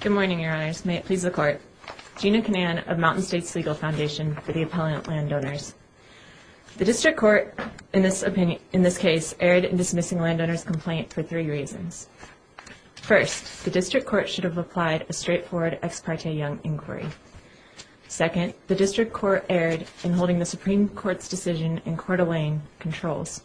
Good morning, Your Honors. May it please the Court. Gina Canan of Mountain States Legal Foundation for the Appellant Landowners. The District Court, in this case, erred in dismissing landowner's complaint for three reasons. First, the District Court should have applied a straightforward ex parte young inquiry. Second, the District Court erred in holding the Supreme Court's decision in Coeur d'Alene controls.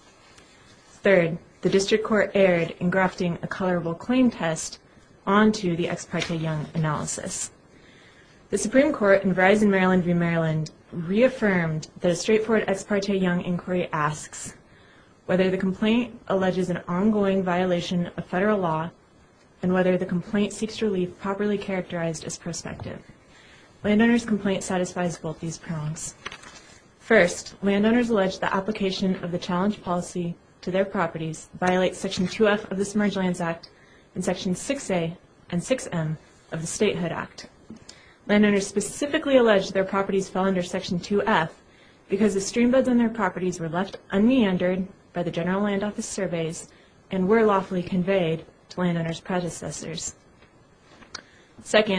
Third, the District Court erred in grafting a colorable claim test onto the ex parte young analysis. The Supreme Court, in Verizon Maryland v. Maryland, reaffirmed that a straightforward ex parte young inquiry asks whether the complaint alleges an ongoing violation of federal law and whether the complaint seeks relief properly characterized as prospective. Landowner's complaint satisfies both these prongs. First, landowners allege the application of the challenge policy to their properties violates Section 2F of the Submerged Lands Act and Sections 6A and 6M of the Statehood Act. Landowners specifically allege their properties fell under Section 2F because the streambeds on their properties were left unmeandered by the General Land Office surveys and were lawfully conveyed to landowner's predecessors.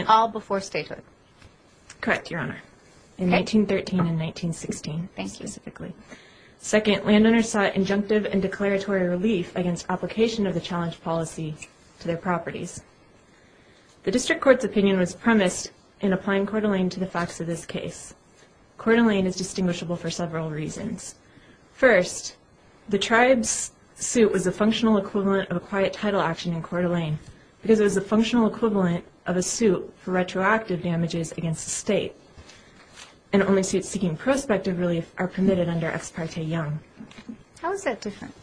All before statehood. Correct, Your Honor. In 1913 and 1916, specifically. Second, landowners sought injunctive and declaratory relief against application of the challenge policy to their properties. The District Court's opinion was premised in applying Coeur d'Alene to the facts of this case. Coeur d'Alene is distinguishable for several reasons. First, the tribe's suit was a functional equivalent of a quiet title action in Coeur d'Alene because it was a functional equivalent of a suit for retroactive damages against the State. And only suits seeking prospective relief are permitted under Ex parte Young. How is that different?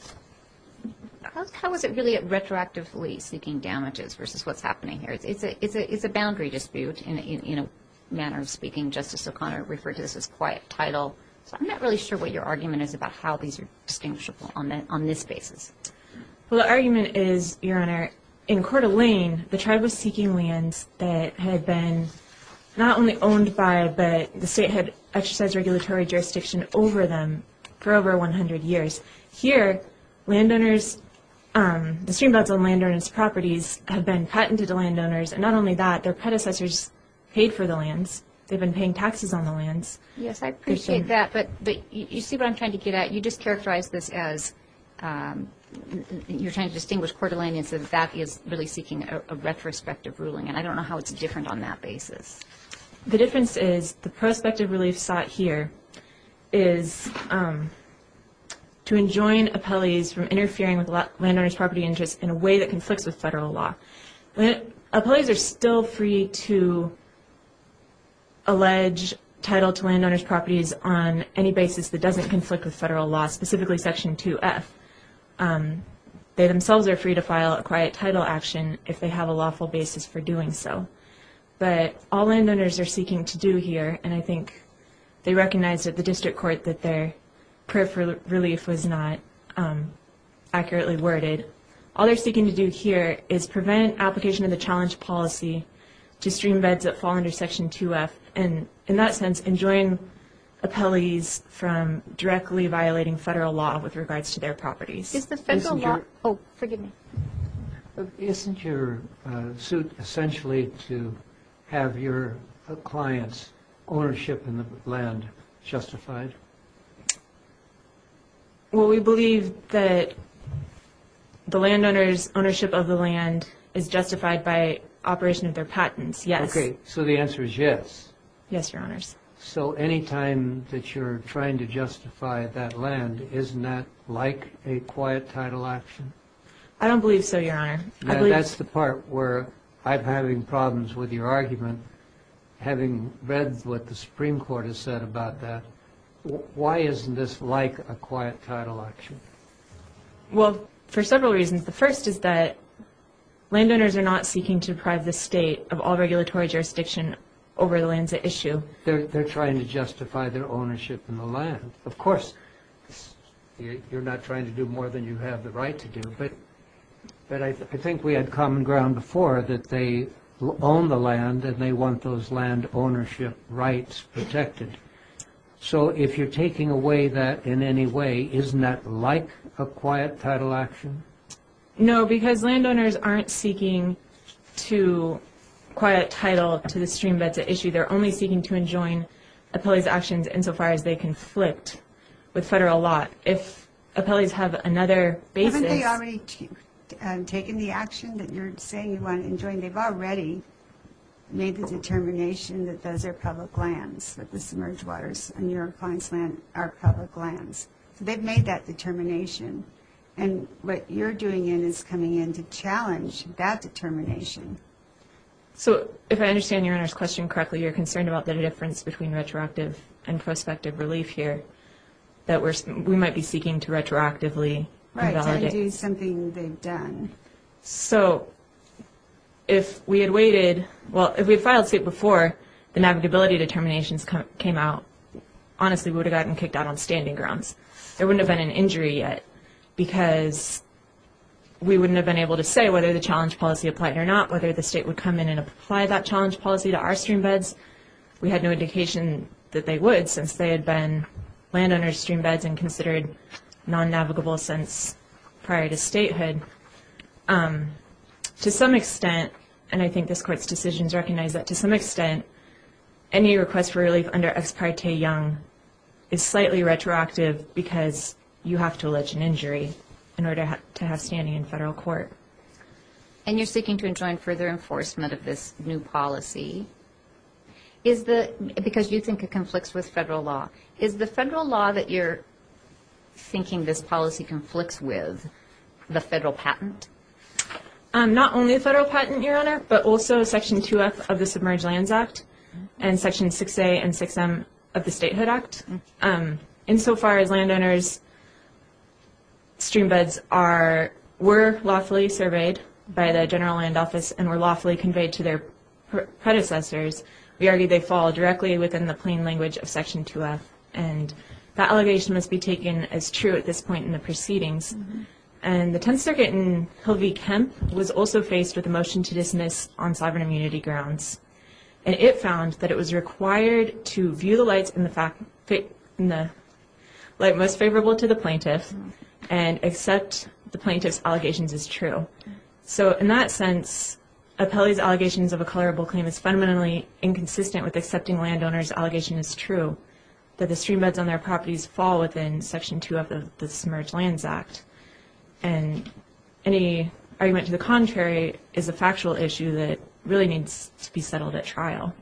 How is it really retroactively seeking damages versus what's happening here? It's a boundary dispute in a manner of speaking. Justice O'Connor referred to this as quiet title. So I'm not really sure what your argument is about how these are distinguishable on this basis. Well, the argument is, Your Honor, in Coeur d'Alene, the tribe was seeking lands that had been not only owned by, but the State had exercised regulatory jurisdiction over them for over 100 years. Here, landowners, the streambeds on landowners' properties have been patented to landowners, and not only that, their predecessors paid for the lands. They've been paying taxes on the lands. Yes, I appreciate that, but you see what I'm trying to get at? You just characterized this as you're trying to distinguish Coeur d'Alene and say that that is really seeking a retrospective ruling, and I don't know how it's different on that basis. The difference is the prospective relief sought here is to enjoin appellees from interfering with landowners' property interests in a way that conflicts with federal law. Appellees are still free to allege title to landowners' properties on any basis that doesn't conflict with federal law, specifically Section 2F. They themselves are free to file a quiet title action if they have a lawful basis for doing so. But all landowners are seeking to do here, and I think they recognize that the district court, that their prayer for relief was not accurately worded. All they're seeking to do here is prevent application of the challenge policy to streambeds that fall under Section 2F, and in that sense, enjoin appellees from directly violating federal law with regards to their properties. Isn't your suit essentially to have your clients' ownership in the land justified? Well, we believe that the landowners' ownership of the land is justified by operation of their patents, yes. Okay, so the answer is yes? Yes, Your Honors. So any time that you're trying to justify that land, isn't that like a quiet title action? I don't believe so, Your Honor. That's the part where I'm having problems with your argument. Having read what the Supreme Court has said about that, why isn't this like a quiet title action? Well, for several reasons. The first is that landowners are not seeking to deprive the state of all regulatory jurisdiction over the land's issue. They're trying to justify their ownership in the land. Of course, you're not trying to do more than you have the right to do, but I think we had common ground before that they own the land and they want those land ownership rights protected. So if you're taking away that in any way, isn't that like a quiet title action? No, because landowners aren't seeking to quiet title to the stream that's at issue. They're only seeking to enjoin appellees' actions insofar as they conflict with federal law. If appellees have another basis... Haven't they already taken the action that you're saying you want to enjoin? They've already made the determination that those are public lands, that the submerged waters in your client's land are public lands. They've made that determination, and what you're doing is coming in to challenge that determination. So if I understand Your Honor's question correctly, you're concerned about the difference between retroactive and prospective relief here, that we might be seeking to retroactively invalidate. Right, to undo something they've done. So if we had waited... Well, if we had filed suit before the magnetability determinations came out, honestly, we would have gotten kicked out on standing grounds. There wouldn't have been an injury yet because we wouldn't have been able to say whether the challenge policy applied or not, whether the state would come in and apply that challenge policy to our streambeds. We had no indication that they would since they had been landowners' streambeds and considered non-navigable since prior to statehood. To some extent, and I think this Court's decisions recognize that to some extent, any request for relief under Ex Parte Young is slightly retroactive because you have to allege an injury in order to have standing in federal court. And you're seeking to enjoin further enforcement of this new policy because you think it conflicts with federal law. Is the federal law that you're thinking this policy conflicts with the federal patent? Not only the federal patent, Your Honor, but also Section 2F of the Submerged Lands Act and Section 6A and 6M of the Statehood Act. Insofar as landowners' streambeds were lawfully surveyed by the General Land Office and were lawfully conveyed to their predecessors, we argue they fall directly within the plain language of Section 2F. And that allegation must be taken as true at this point in the proceedings. And the Tenth Circuit in Hill v. Kemp was also faced with a motion to dismiss on sovereign immunity grounds. And it found that it was required to view the light most favorable to the plaintiff and accept the plaintiff's allegations as true. So in that sense, Apelli's allegations of a colorable claim is fundamentally inconsistent with accepting landowners' allegation as true, that the streambeds on their properties fall within Section 2F of the Submerged Lands Act. And any argument to the contrary is a factual issue that really needs to be settled at trial.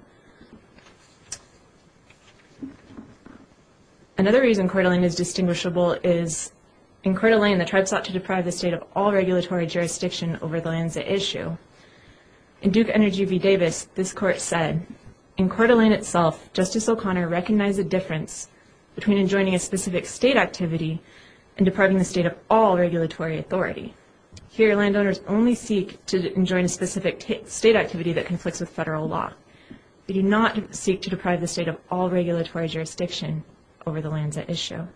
Another reason Coeur d'Alene is distinguishable is in Coeur d'Alene, the tribe sought to deprive the state of all regulatory jurisdiction over the lands at issue. In Duke v. Davis, this court said, In Coeur d'Alene itself, Justice O'Connor recognized the difference between enjoining a specific state activity and depriving the state of all regulatory authority. Here, landowners only seek to enjoin a specific state activity that conflicts with federal law. They do not seek to deprive the state of all regulatory jurisdiction over the lands at issue.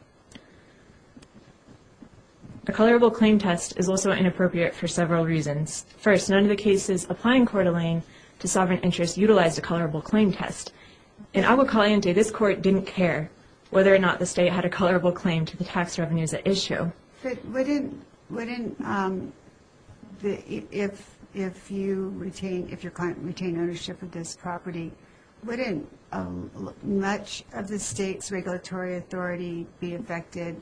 A colorable claim test is also inappropriate for several reasons. First, none of the cases applying Coeur d'Alene to sovereign interests utilized a colorable claim test. In Agua Caliente, this court didn't care whether or not the state had a colorable claim to the tax revenues at issue. If your client retained ownership of this property, wouldn't much of the state's regulatory authority be affected?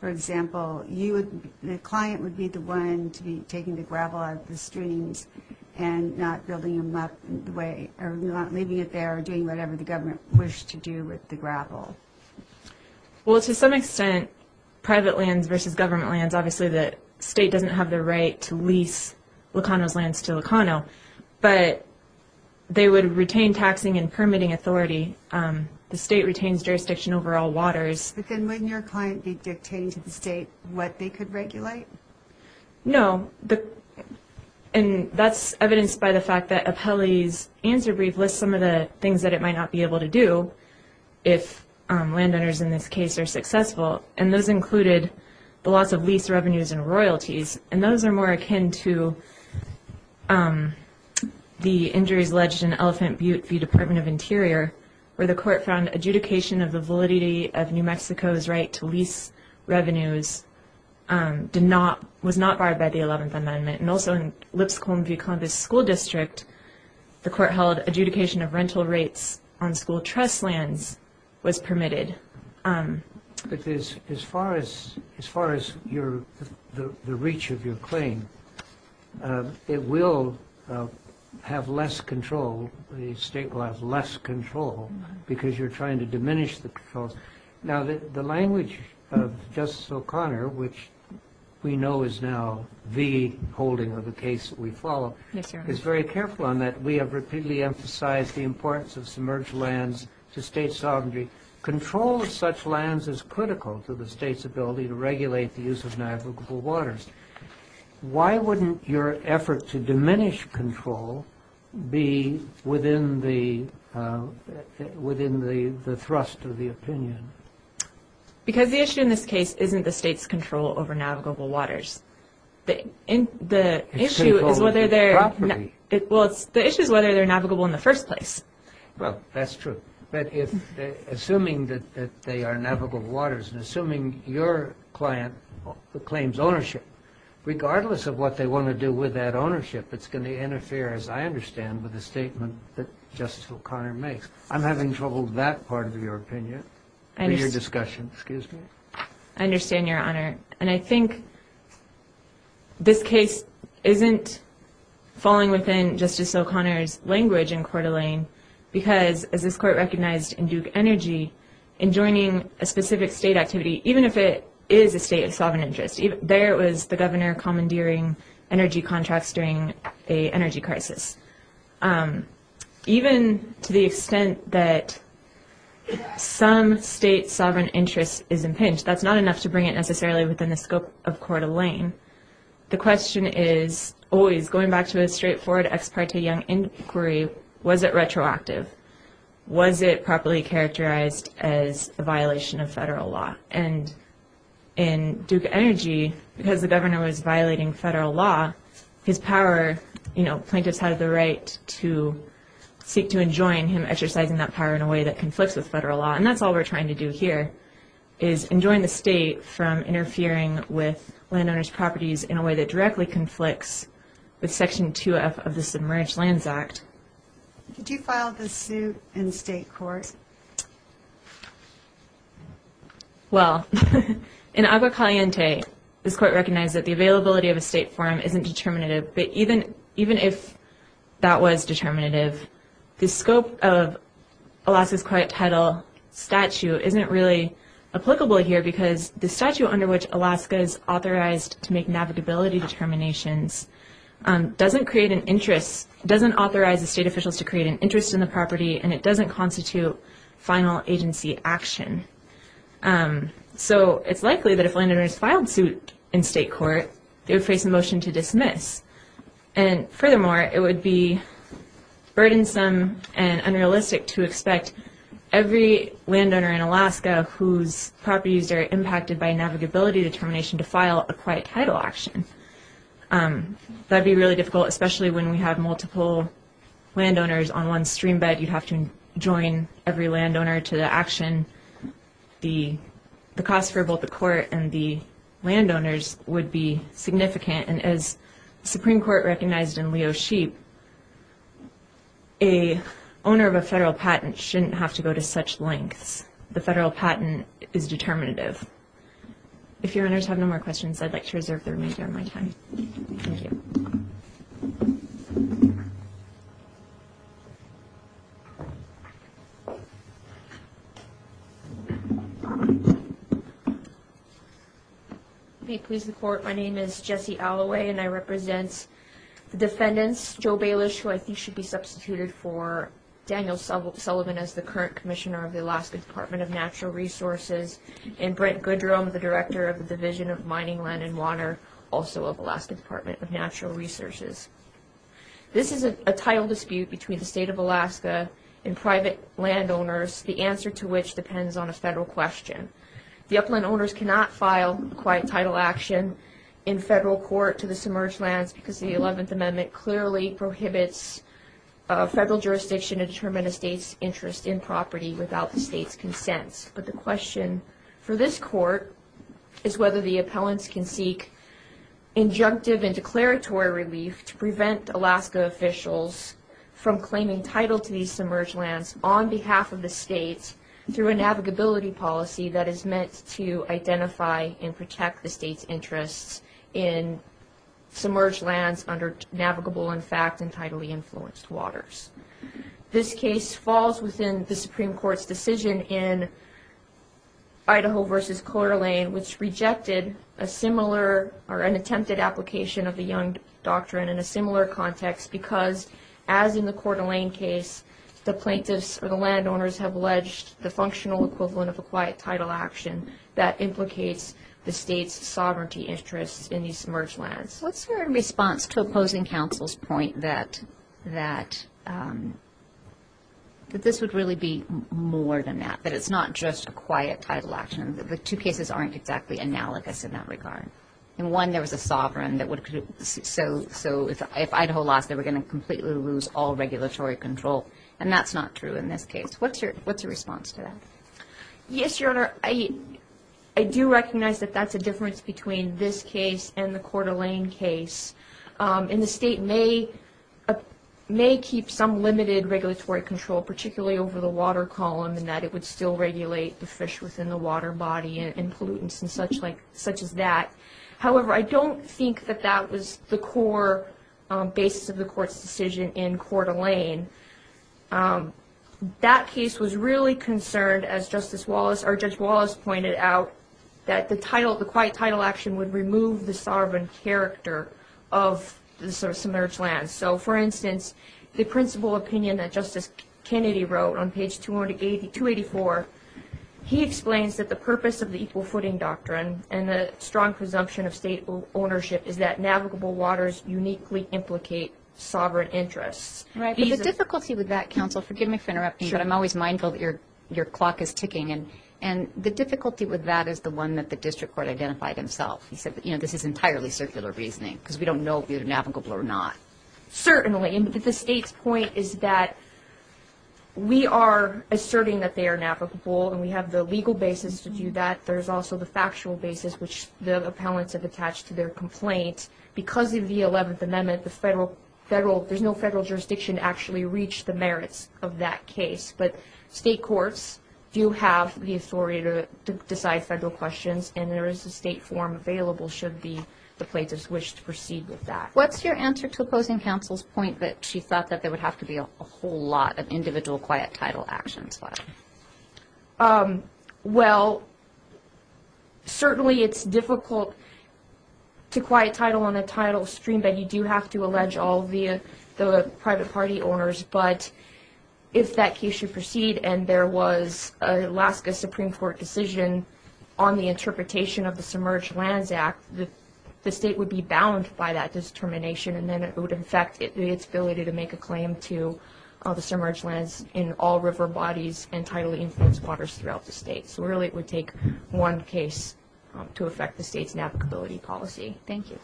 For example, the client would be the one to be taking the gravel out of the streams and not leaving it there or doing whatever the government wished to do with the gravel. Well, to some extent, private lands versus government lands, obviously the state doesn't have the right to lease Locano's lands to Locano, but they would retain taxing and permitting authority. The state retains jurisdiction over all waters. But then wouldn't your client be dictating to the state what they could regulate? No. And that's evidenced by the fact that Apelli's answer brief lists some of the things that it might not be able to do if landowners in this case are successful. And those included the loss of lease revenues and royalties. And those are more akin to the injuries alleged in Elephant Butte v. Department of Interior, where the court found adjudication of the validity of New Mexico's right to lease revenues was not barred by the 11th Amendment. And also in Lipscomb v. Columbus School District, the court held adjudication of rental rates on school trust lands was permitted. But as far as the reach of your claim, it will have less control. The state will have less control because you're trying to diminish the controls. Now, the language of Justice O'Connor, which we know is now the holding of the case that we follow, is very careful on that. We have repeatedly emphasized the importance of submerged lands to state sovereignty. Control of such lands is critical to the state's ability to regulate the use of navigable waters. Why wouldn't your effort to diminish control be within the thrust of the opinion? Because the issue in this case isn't the state's control over navigable waters. The issue is whether they're navigable in the first place. Well, that's true. Assuming that they are navigable waters and assuming your client claims ownership, regardless of what they want to do with that ownership, it's going to interfere, as I understand, with the statement that Justice O'Connor makes. I'm having trouble with that part of your opinion. I understand, Your Honor. And I think this case isn't falling within Justice O'Connor's language in Coeur d'Alene because, as this Court recognized in Duke Energy, in joining a specific state activity, even if it is a state of sovereign interest, there was the governor commandeering energy contracts during an energy crisis. Even to the extent that some state sovereign interest is impinged, that's not enough to bring it necessarily within the scope of Coeur d'Alene. The question is always, going back to a straightforward ex parte Young inquiry, was it retroactive? Was it properly characterized as a violation of federal law? And in Duke Energy, because the governor was violating federal law, plaintiffs had the right to seek to enjoin him exercising that power in a way that conflicts with federal law. And that's all we're trying to do here, is enjoin the state from interfering with landowners' properties in a way that directly conflicts with Section 2F of the Submerged Lands Act. Could you file the suit in state court? Well, in Agua Caliente, this Court recognized that the availability of a state forum isn't determinative, but even if that was determinative, the scope of Alaska's Quiet Tidal statue isn't really applicable here because the statue under which Alaska is authorized to make navigability determinations doesn't authorize the state officials to create an interest in the property and it doesn't constitute final agency action. So it's likely that if landowners filed suit in state court, they would face a motion to dismiss. And furthermore, it would be burdensome and unrealistic to expect every landowner in Alaska whose properties are impacted by a navigability determination to file a Quiet Tidal action. That would be really difficult, especially when we have multiple landowners on one stream bed. You'd have to enjoin every landowner to the action. The cost for both the court and the landowners would be significant. And as the Supreme Court recognized in Leo Sheep, a owner of a federal patent shouldn't have to go to such lengths. The federal patent is determinative. If your owners have no more questions, I'd like to reserve the remainder of my time. Thank you. May it please the Court, my name is Jessie Alloway and I represent the defendants, Joe Balish, who I think should be substituted for Daniel Sullivan as the current commissioner of the Alaska Department of Natural Resources, and Brent Goodrum, the director of the Division of Mining, Land, and Water, also of Alaska Department of Natural Resources. This is a title dispute between the state of Alaska and private landowners, the answer to which depends on a federal question. The upland owners cannot file Quiet Tidal action in federal court to the submerged lands because the 11th Amendment clearly prohibits federal jurisdiction to determine a state's interest in property without the state's consent. But the question for this court is whether the appellants can seek injunctive and declaratory relief to prevent Alaska officials from claiming title to these submerged lands on behalf of the state through a navigability policy that is meant to identify and protect the state's interests in submerged lands under navigable, in fact, and tidally influenced waters. This case falls within the Supreme Court's decision in Idaho v. Coeur d'Alene, which rejected a similar or an attempted application of the Young Doctrine in a similar context because, as in the Coeur d'Alene case, the plaintiffs or the landowners have alleged the functional equivalent of a Quiet Tidal action that implicates the state's sovereignty interests in these submerged lands. What's your response to opposing counsel's point that this would really be more than that, that it's not just a Quiet Tidal action, that the two cases aren't exactly analogous in that regard? In one, there was a sovereign, so if Idaho lost, they were going to completely lose all regulatory control, and that's not true in this case. What's your response to that? Yes, Your Honor, I do recognize that that's a difference between this case and the Coeur d'Alene case, and the state may keep some limited regulatory control, particularly over the water column, and that it would still regulate the fish within the water body and pollutants and such as that. However, I don't think that that was the core basis of the Court's decision in Coeur d'Alene. That case was really concerned, as Justice Wallace or Judge Wallace pointed out, that the Quiet Tidal action would remove the sovereign character of the submerged lands. So, for instance, the principal opinion that Justice Kennedy wrote on page 284, he explains that the purpose of the Equal Footing Doctrine and the strong presumption of state ownership is that navigable waters uniquely implicate sovereign interests. Right, but the difficulty with that, counsel, forgive me for interrupting, but I'm always mindful that your clock is ticking, and the difficulty with that is the one that the district court identified himself. He said, you know, this is entirely circular reasoning because we don't know if they're navigable or not. Certainly, and the state's point is that we are asserting that they are navigable, and we have the legal basis to do that. There's also the factual basis, which the appellants have attached to their complaint. Because of the 11th Amendment, there's no federal jurisdiction to actually reach the merits of that case, but state courts do have the authority to decide federal questions, and there is a state form available should the plaintiffs wish to proceed with that. What's your answer to opposing counsel's point that she thought that there would have to be a whole lot of individual Quiet Tidal actions filed? Well, certainly it's difficult to Quiet Tidal on a tidal stream, but you do have to allege all the private party owners. But if that case should proceed and there was an Alaska Supreme Court decision on the interpretation of the Submerged Lands Act, the state would be bound by that determination, and then it would affect its ability to make a claim to the submerged lands in all river bodies and tidally influenced waters throughout the state. So really, it would take one case to affect the state's navigability policy. Thank you.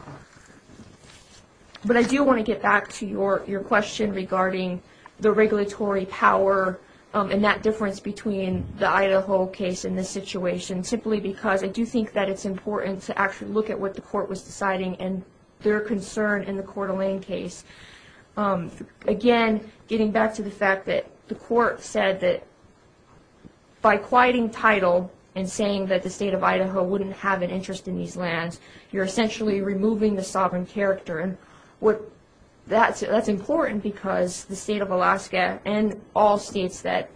But I do want to get back to your question regarding the regulatory power and that difference between the Idaho case and this situation, simply because I do think that it's important to actually look at what the court was deciding and their concern in the Coeur d'Alene case. Again, getting back to the fact that the court said that by quieting tidal and saying that the state of Idaho wouldn't have an interest in these lands, you're essentially removing the sovereign character. That's important because the state of Alaska and all states that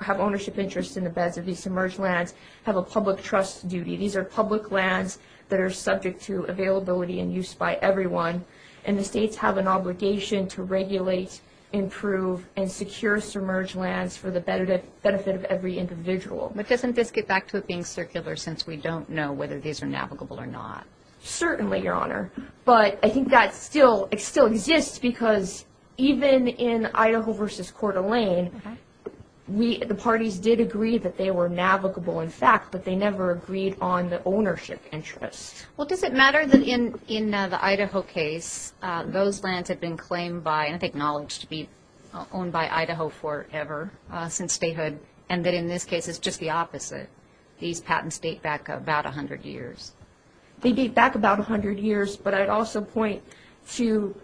have ownership interests in the beds of these submerged lands have a public trust duty. These are public lands that are subject to availability and use by everyone, and the states have an obligation to regulate, improve, and secure submerged lands for the benefit of every individual. But doesn't this get back to it being circular since we don't know whether these are navigable or not? Certainly, Your Honor. But I think that still exists because even in Idaho v. Coeur d'Alene, the parties did agree that they were navigable, in fact, but they never agreed on the ownership interest. Well, does it matter that in the Idaho case, those lands had been claimed by and I think acknowledged to be owned by Idaho forever since statehood, and that in this case it's just the opposite? These patents date back about 100 years. They date back about 100 years, but I'd also point to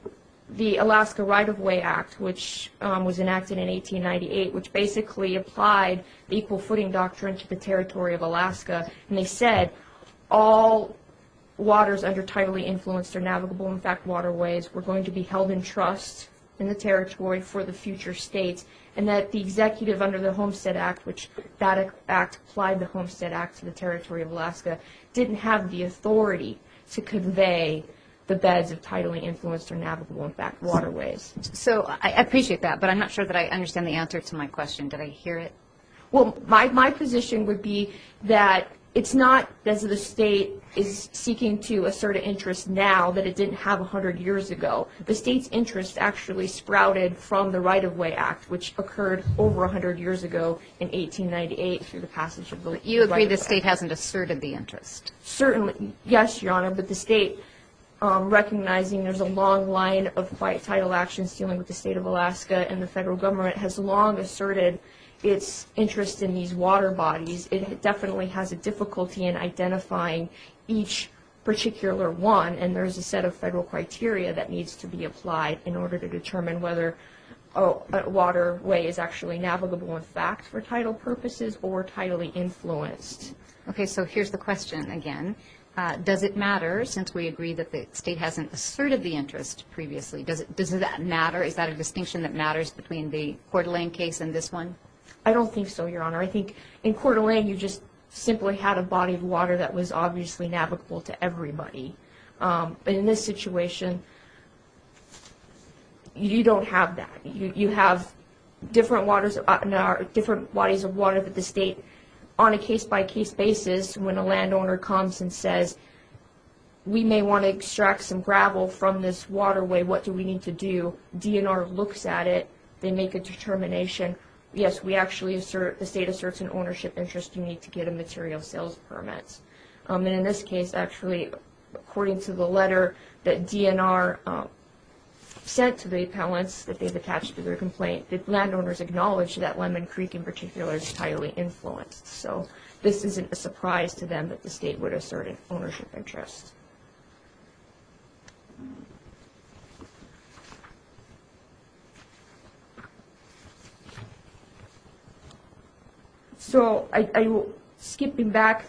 the Alaska Right-of-Way Act, which was enacted in 1898, which basically applied the equal footing doctrine to the territory of Alaska, and they said all waters under tidally influenced or navigable, in fact, waterways were going to be held in trust in the territory for the future states, and that the executive under the Homestead Act, which that act applied the Homestead Act to the territory of Alaska, didn't have the authority to convey the beds of tidally influenced or navigable, in fact, waterways. So I appreciate that, but I'm not sure that I understand the answer to my question. Did I hear it? Well, my position would be that it's not as the state is seeking to assert an interest now that it didn't have 100 years ago. The state's interest actually sprouted from the Right-of-Way Act, which occurred over 100 years ago in 1898 through the passage of the Right-of-Way Act. But you agree the state hasn't asserted the interest? Certainly, yes, Your Honor, but the state recognizing there's a long line of tidal actions dealing with the state of Alaska and the federal government has long asserted its interest in these water bodies. It definitely has a difficulty in identifying each particular one, and there's a set of federal criteria that needs to be applied in order to determine whether a waterway is actually navigable, in fact, for tidal purposes or tidally influenced. Okay, so here's the question again. Does it matter, since we agree that the state hasn't asserted the interest previously, does that matter? Is that a distinction that matters between the Coeur d'Alene case and this one? I don't think so, Your Honor. I think in Coeur d'Alene you just simply had a body of water that was obviously navigable to everybody. In this situation, you don't have that. You have different bodies of water that the state, on a case-by-case basis, when a landowner comes and says, we may want to extract some gravel from this waterway, what do we need to do? DNR looks at it. They make a determination. Yes, the state asserts an ownership interest. You need to get a material sales permit. And in this case, actually, according to the letter that DNR sent to the appellants that they've attached to their complaint, the landowners acknowledge that Lemon Creek in particular is highly influenced. So this isn't a surprise to them that the state would assert an ownership interest. So skipping back,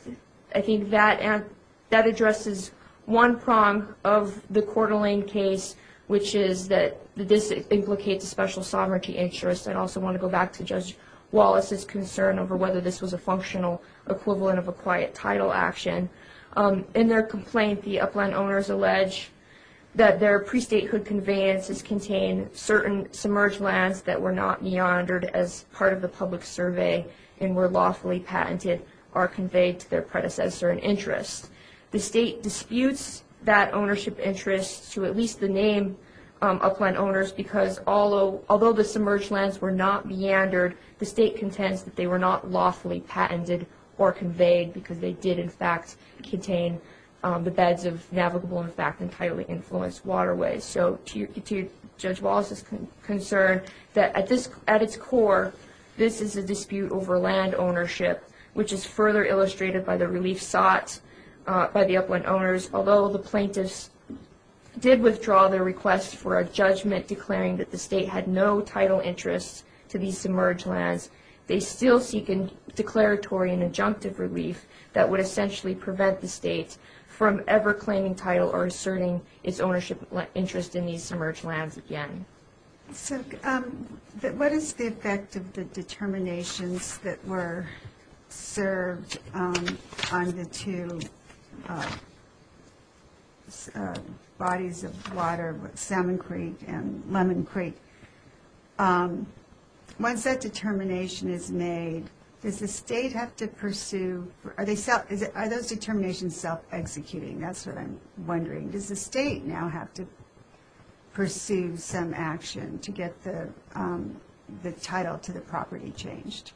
I think that addresses one prong of the Coeur d'Alene case, which is that this implicates a special sovereignty interest. I'd also want to go back to Judge Wallace's concern over whether this was a functional equivalent of a quiet title action. In their complaint, the upland owners allege that their pre-statehood conveyances contain certain submerged lands that were not meandered as part of the public survey and were lawfully patented or conveyed to their predecessor in interest. The state disputes that ownership interest to at least the name upland owners because although the submerged lands were not meandered, the state contends that they were not lawfully patented or conveyed because they did, in fact, contain the beds of navigable, in fact, entirely influenced waterways. So to Judge Wallace's concern, at its core, this is a dispute over land ownership, which is further illustrated by the relief sought by the upland owners. Although the plaintiffs did withdraw their request for a judgment declaring that the state had no title interest to these submerged lands, they still seek a declaratory and adjunctive relief that would essentially prevent the state from ever claiming title or asserting its ownership interest in these submerged lands again. So what is the effect of the determinations that were served on the two bodies of water, Salmon Creek and Lemon Creek? Once that determination is made, does the state have to pursue – are those determinations self-executing? That's what I'm wondering. Does the state now have to pursue some action to get the title to the property changed?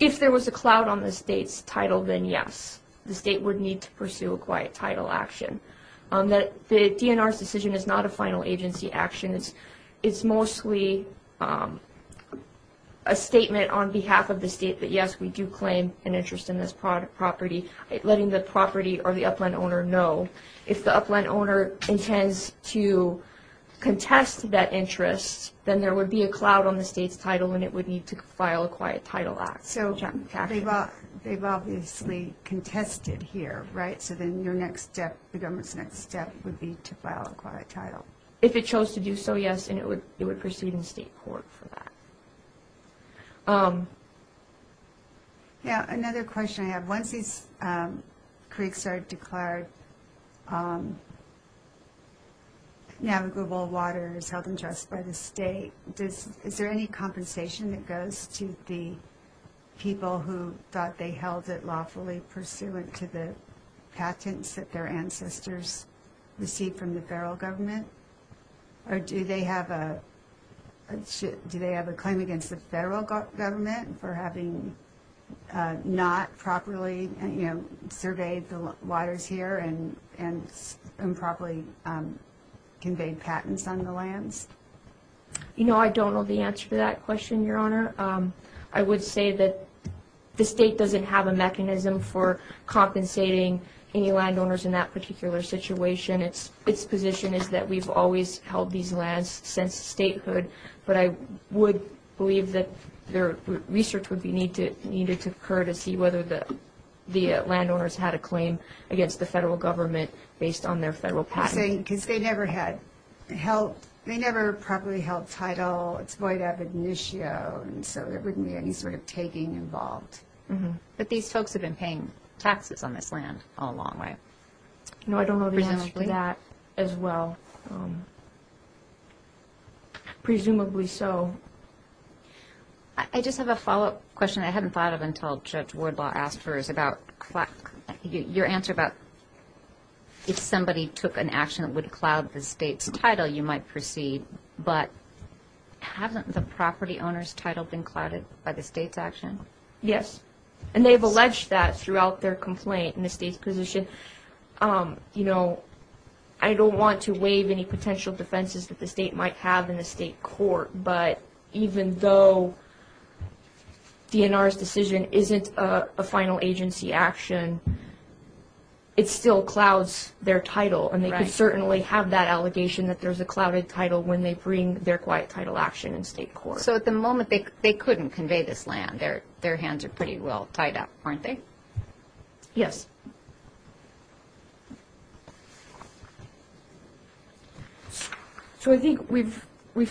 If there was a cloud on the state's title, then yes. The state would need to pursue a quiet title action. The DNR's decision is not a final agency action. It's mostly a statement on behalf of the state that, yes, we do claim an interest in this property, letting the property or the upland owner know. If the upland owner intends to contest that interest, then there would be a cloud on the state's title and it would need to file a quiet title act. So they've obviously contested here, right? So then your next step, the government's next step would be to file a quiet title. If it chose to do so, yes, and it would proceed in state court for that. Yeah, another question I have. Once these creeks are declared navigable waters held in trust by the state, is there any compensation that goes to the people who thought they held it lawfully pursuant to the patents that their ancestors received from the federal government? Or do they have a claim against the federal government for having not properly surveyed the waters here and properly conveyed patents on the lands? You know, I don't know the answer to that question, Your Honor. I would say that the state doesn't have a mechanism for compensating any landowners in that particular situation. Its position is that we've always held these lands since statehood, but I would believe that research would be needed to occur to see whether the landowners had a claim against the federal government based on their federal patents. Because they never had held, they never properly held title. It's void of initio, and so there wouldn't be any sort of taking involved. But these folks have been paying taxes on this land all along, right? No, I don't know the answer to that as well. Presumably so. I just have a follow-up question I hadn't thought of until Judge Wardlaw asked hers about your answer about if somebody took an action that would cloud the state's title, you might proceed, but hasn't the property owner's title been clouded by the state's action? Yes, and they've alleged that throughout their complaint in the state's position. You know, I don't want to waive any potential defenses that the state might have in the state court, but even though DNR's decision isn't a final agency action, it still clouds their title, and they could certainly have that allegation that there's a clouded title when they bring their quiet title action in state court. So at the moment, they couldn't convey this land. Their hands are pretty well tied up, aren't they? Yes. So I think we've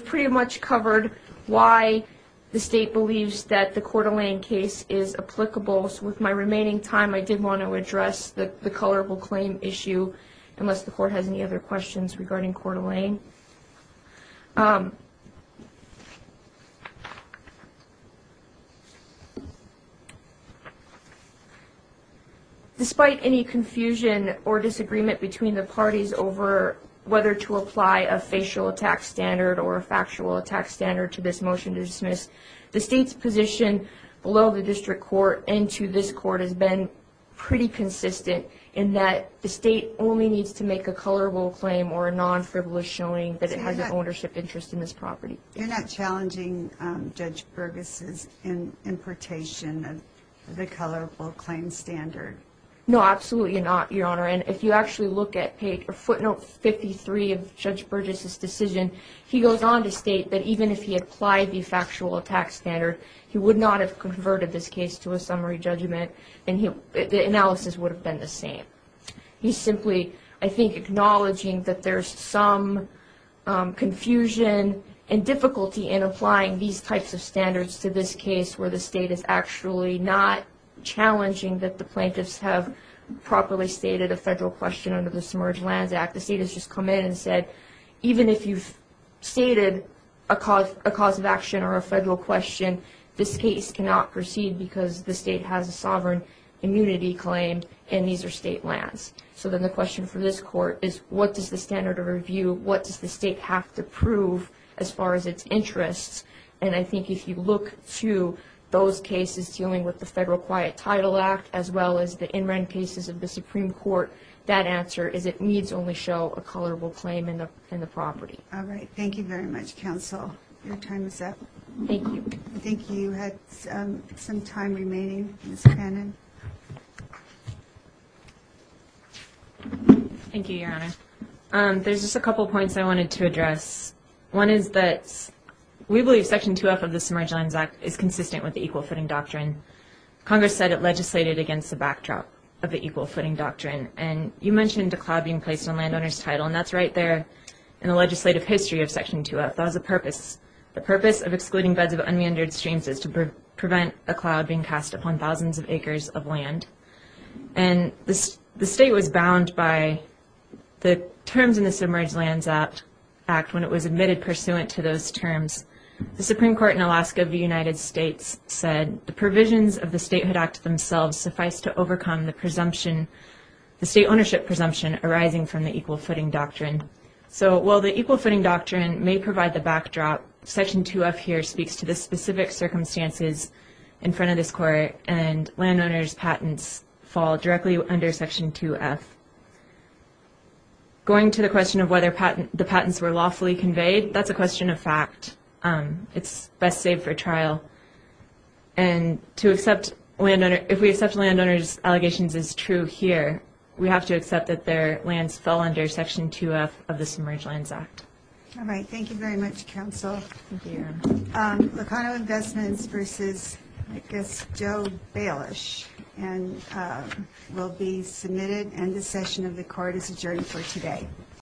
pretty much covered why the state believes that the Coeur d'Alene case is applicable. So with my remaining time, I did want to address the colorable claim issue, unless the court has any other questions regarding Coeur d'Alene. Despite any confusion or disagreement between the parties over whether to apply a facial attack standard or a factual attack standard to this motion to dismiss, the state's position below the district court and to this court has been pretty consistent in that the state only needs to make a colorable claim or a non-frivolous showing that it has an ownership interest in this property. You're not challenging Judge Burgess's importation of the colorable claim standard? No, absolutely not, Your Honor. And if you actually look at footnote 53 of Judge Burgess's decision, he goes on to state that even if he applied the factual attack standard, he would not have converted this case to a summary judgment, and the analysis would have been the same. He's simply, I think, acknowledging that there's some confusion and difficulty in applying these types of standards to this case where the state is actually not challenging that the plaintiffs have properly stated a federal question under the Submerged Lands Act. The state has just come in and said, even if you've stated a cause of action or a federal question, this case cannot proceed because the state has a sovereign immunity claim and these are state lands. So then the question for this court is, what does the standard of review, what does the state have to prove as far as its interests? And I think if you look to those cases dealing with the Federal Quiet Title Act as well as the in-rent cases of the Supreme Court, that answer is it needs only show a colorable claim in the property. All right. Thank you very much, counsel. Your time is up. Thank you. I think you had some time remaining, Ms. Cannon. Thank you, Your Honor. There's just a couple points I wanted to address. One is that we believe Section 2F of the Submerged Lands Act is consistent with the equal footing doctrine. Congress said it legislated against the backdrop of the equal footing doctrine, and you mentioned a cloud being placed on landowners' title, and that's right there in the legislative history of Section 2F. That was the purpose. The purpose of excluding beds of unmeandered streams is to prevent a cloud being cast upon thousands of acres of land. And the state was bound by the terms in the Submerged Lands Act when it was admitted pursuant to those terms. The Supreme Court in Alaska of the United States said the provisions of the statehood act themselves suffice to overcome the state ownership presumption arising from the equal footing doctrine. So while the equal footing doctrine may provide the backdrop, Section 2F here speaks to the specific circumstances in front of this Court, and landowners' patents fall directly under Section 2F. Going to the question of whether the patents were lawfully conveyed, that's a question of fact. It's best saved for trial. And if we accept landowners' allegations as true here, we have to accept that their lands fell under Section 2F of the Submerged Lands Act. All right. Thank you very much, counsel. Thank you. Locano Investments v. Joe Baelish will be submitted, and the session of the Court is adjourned for today.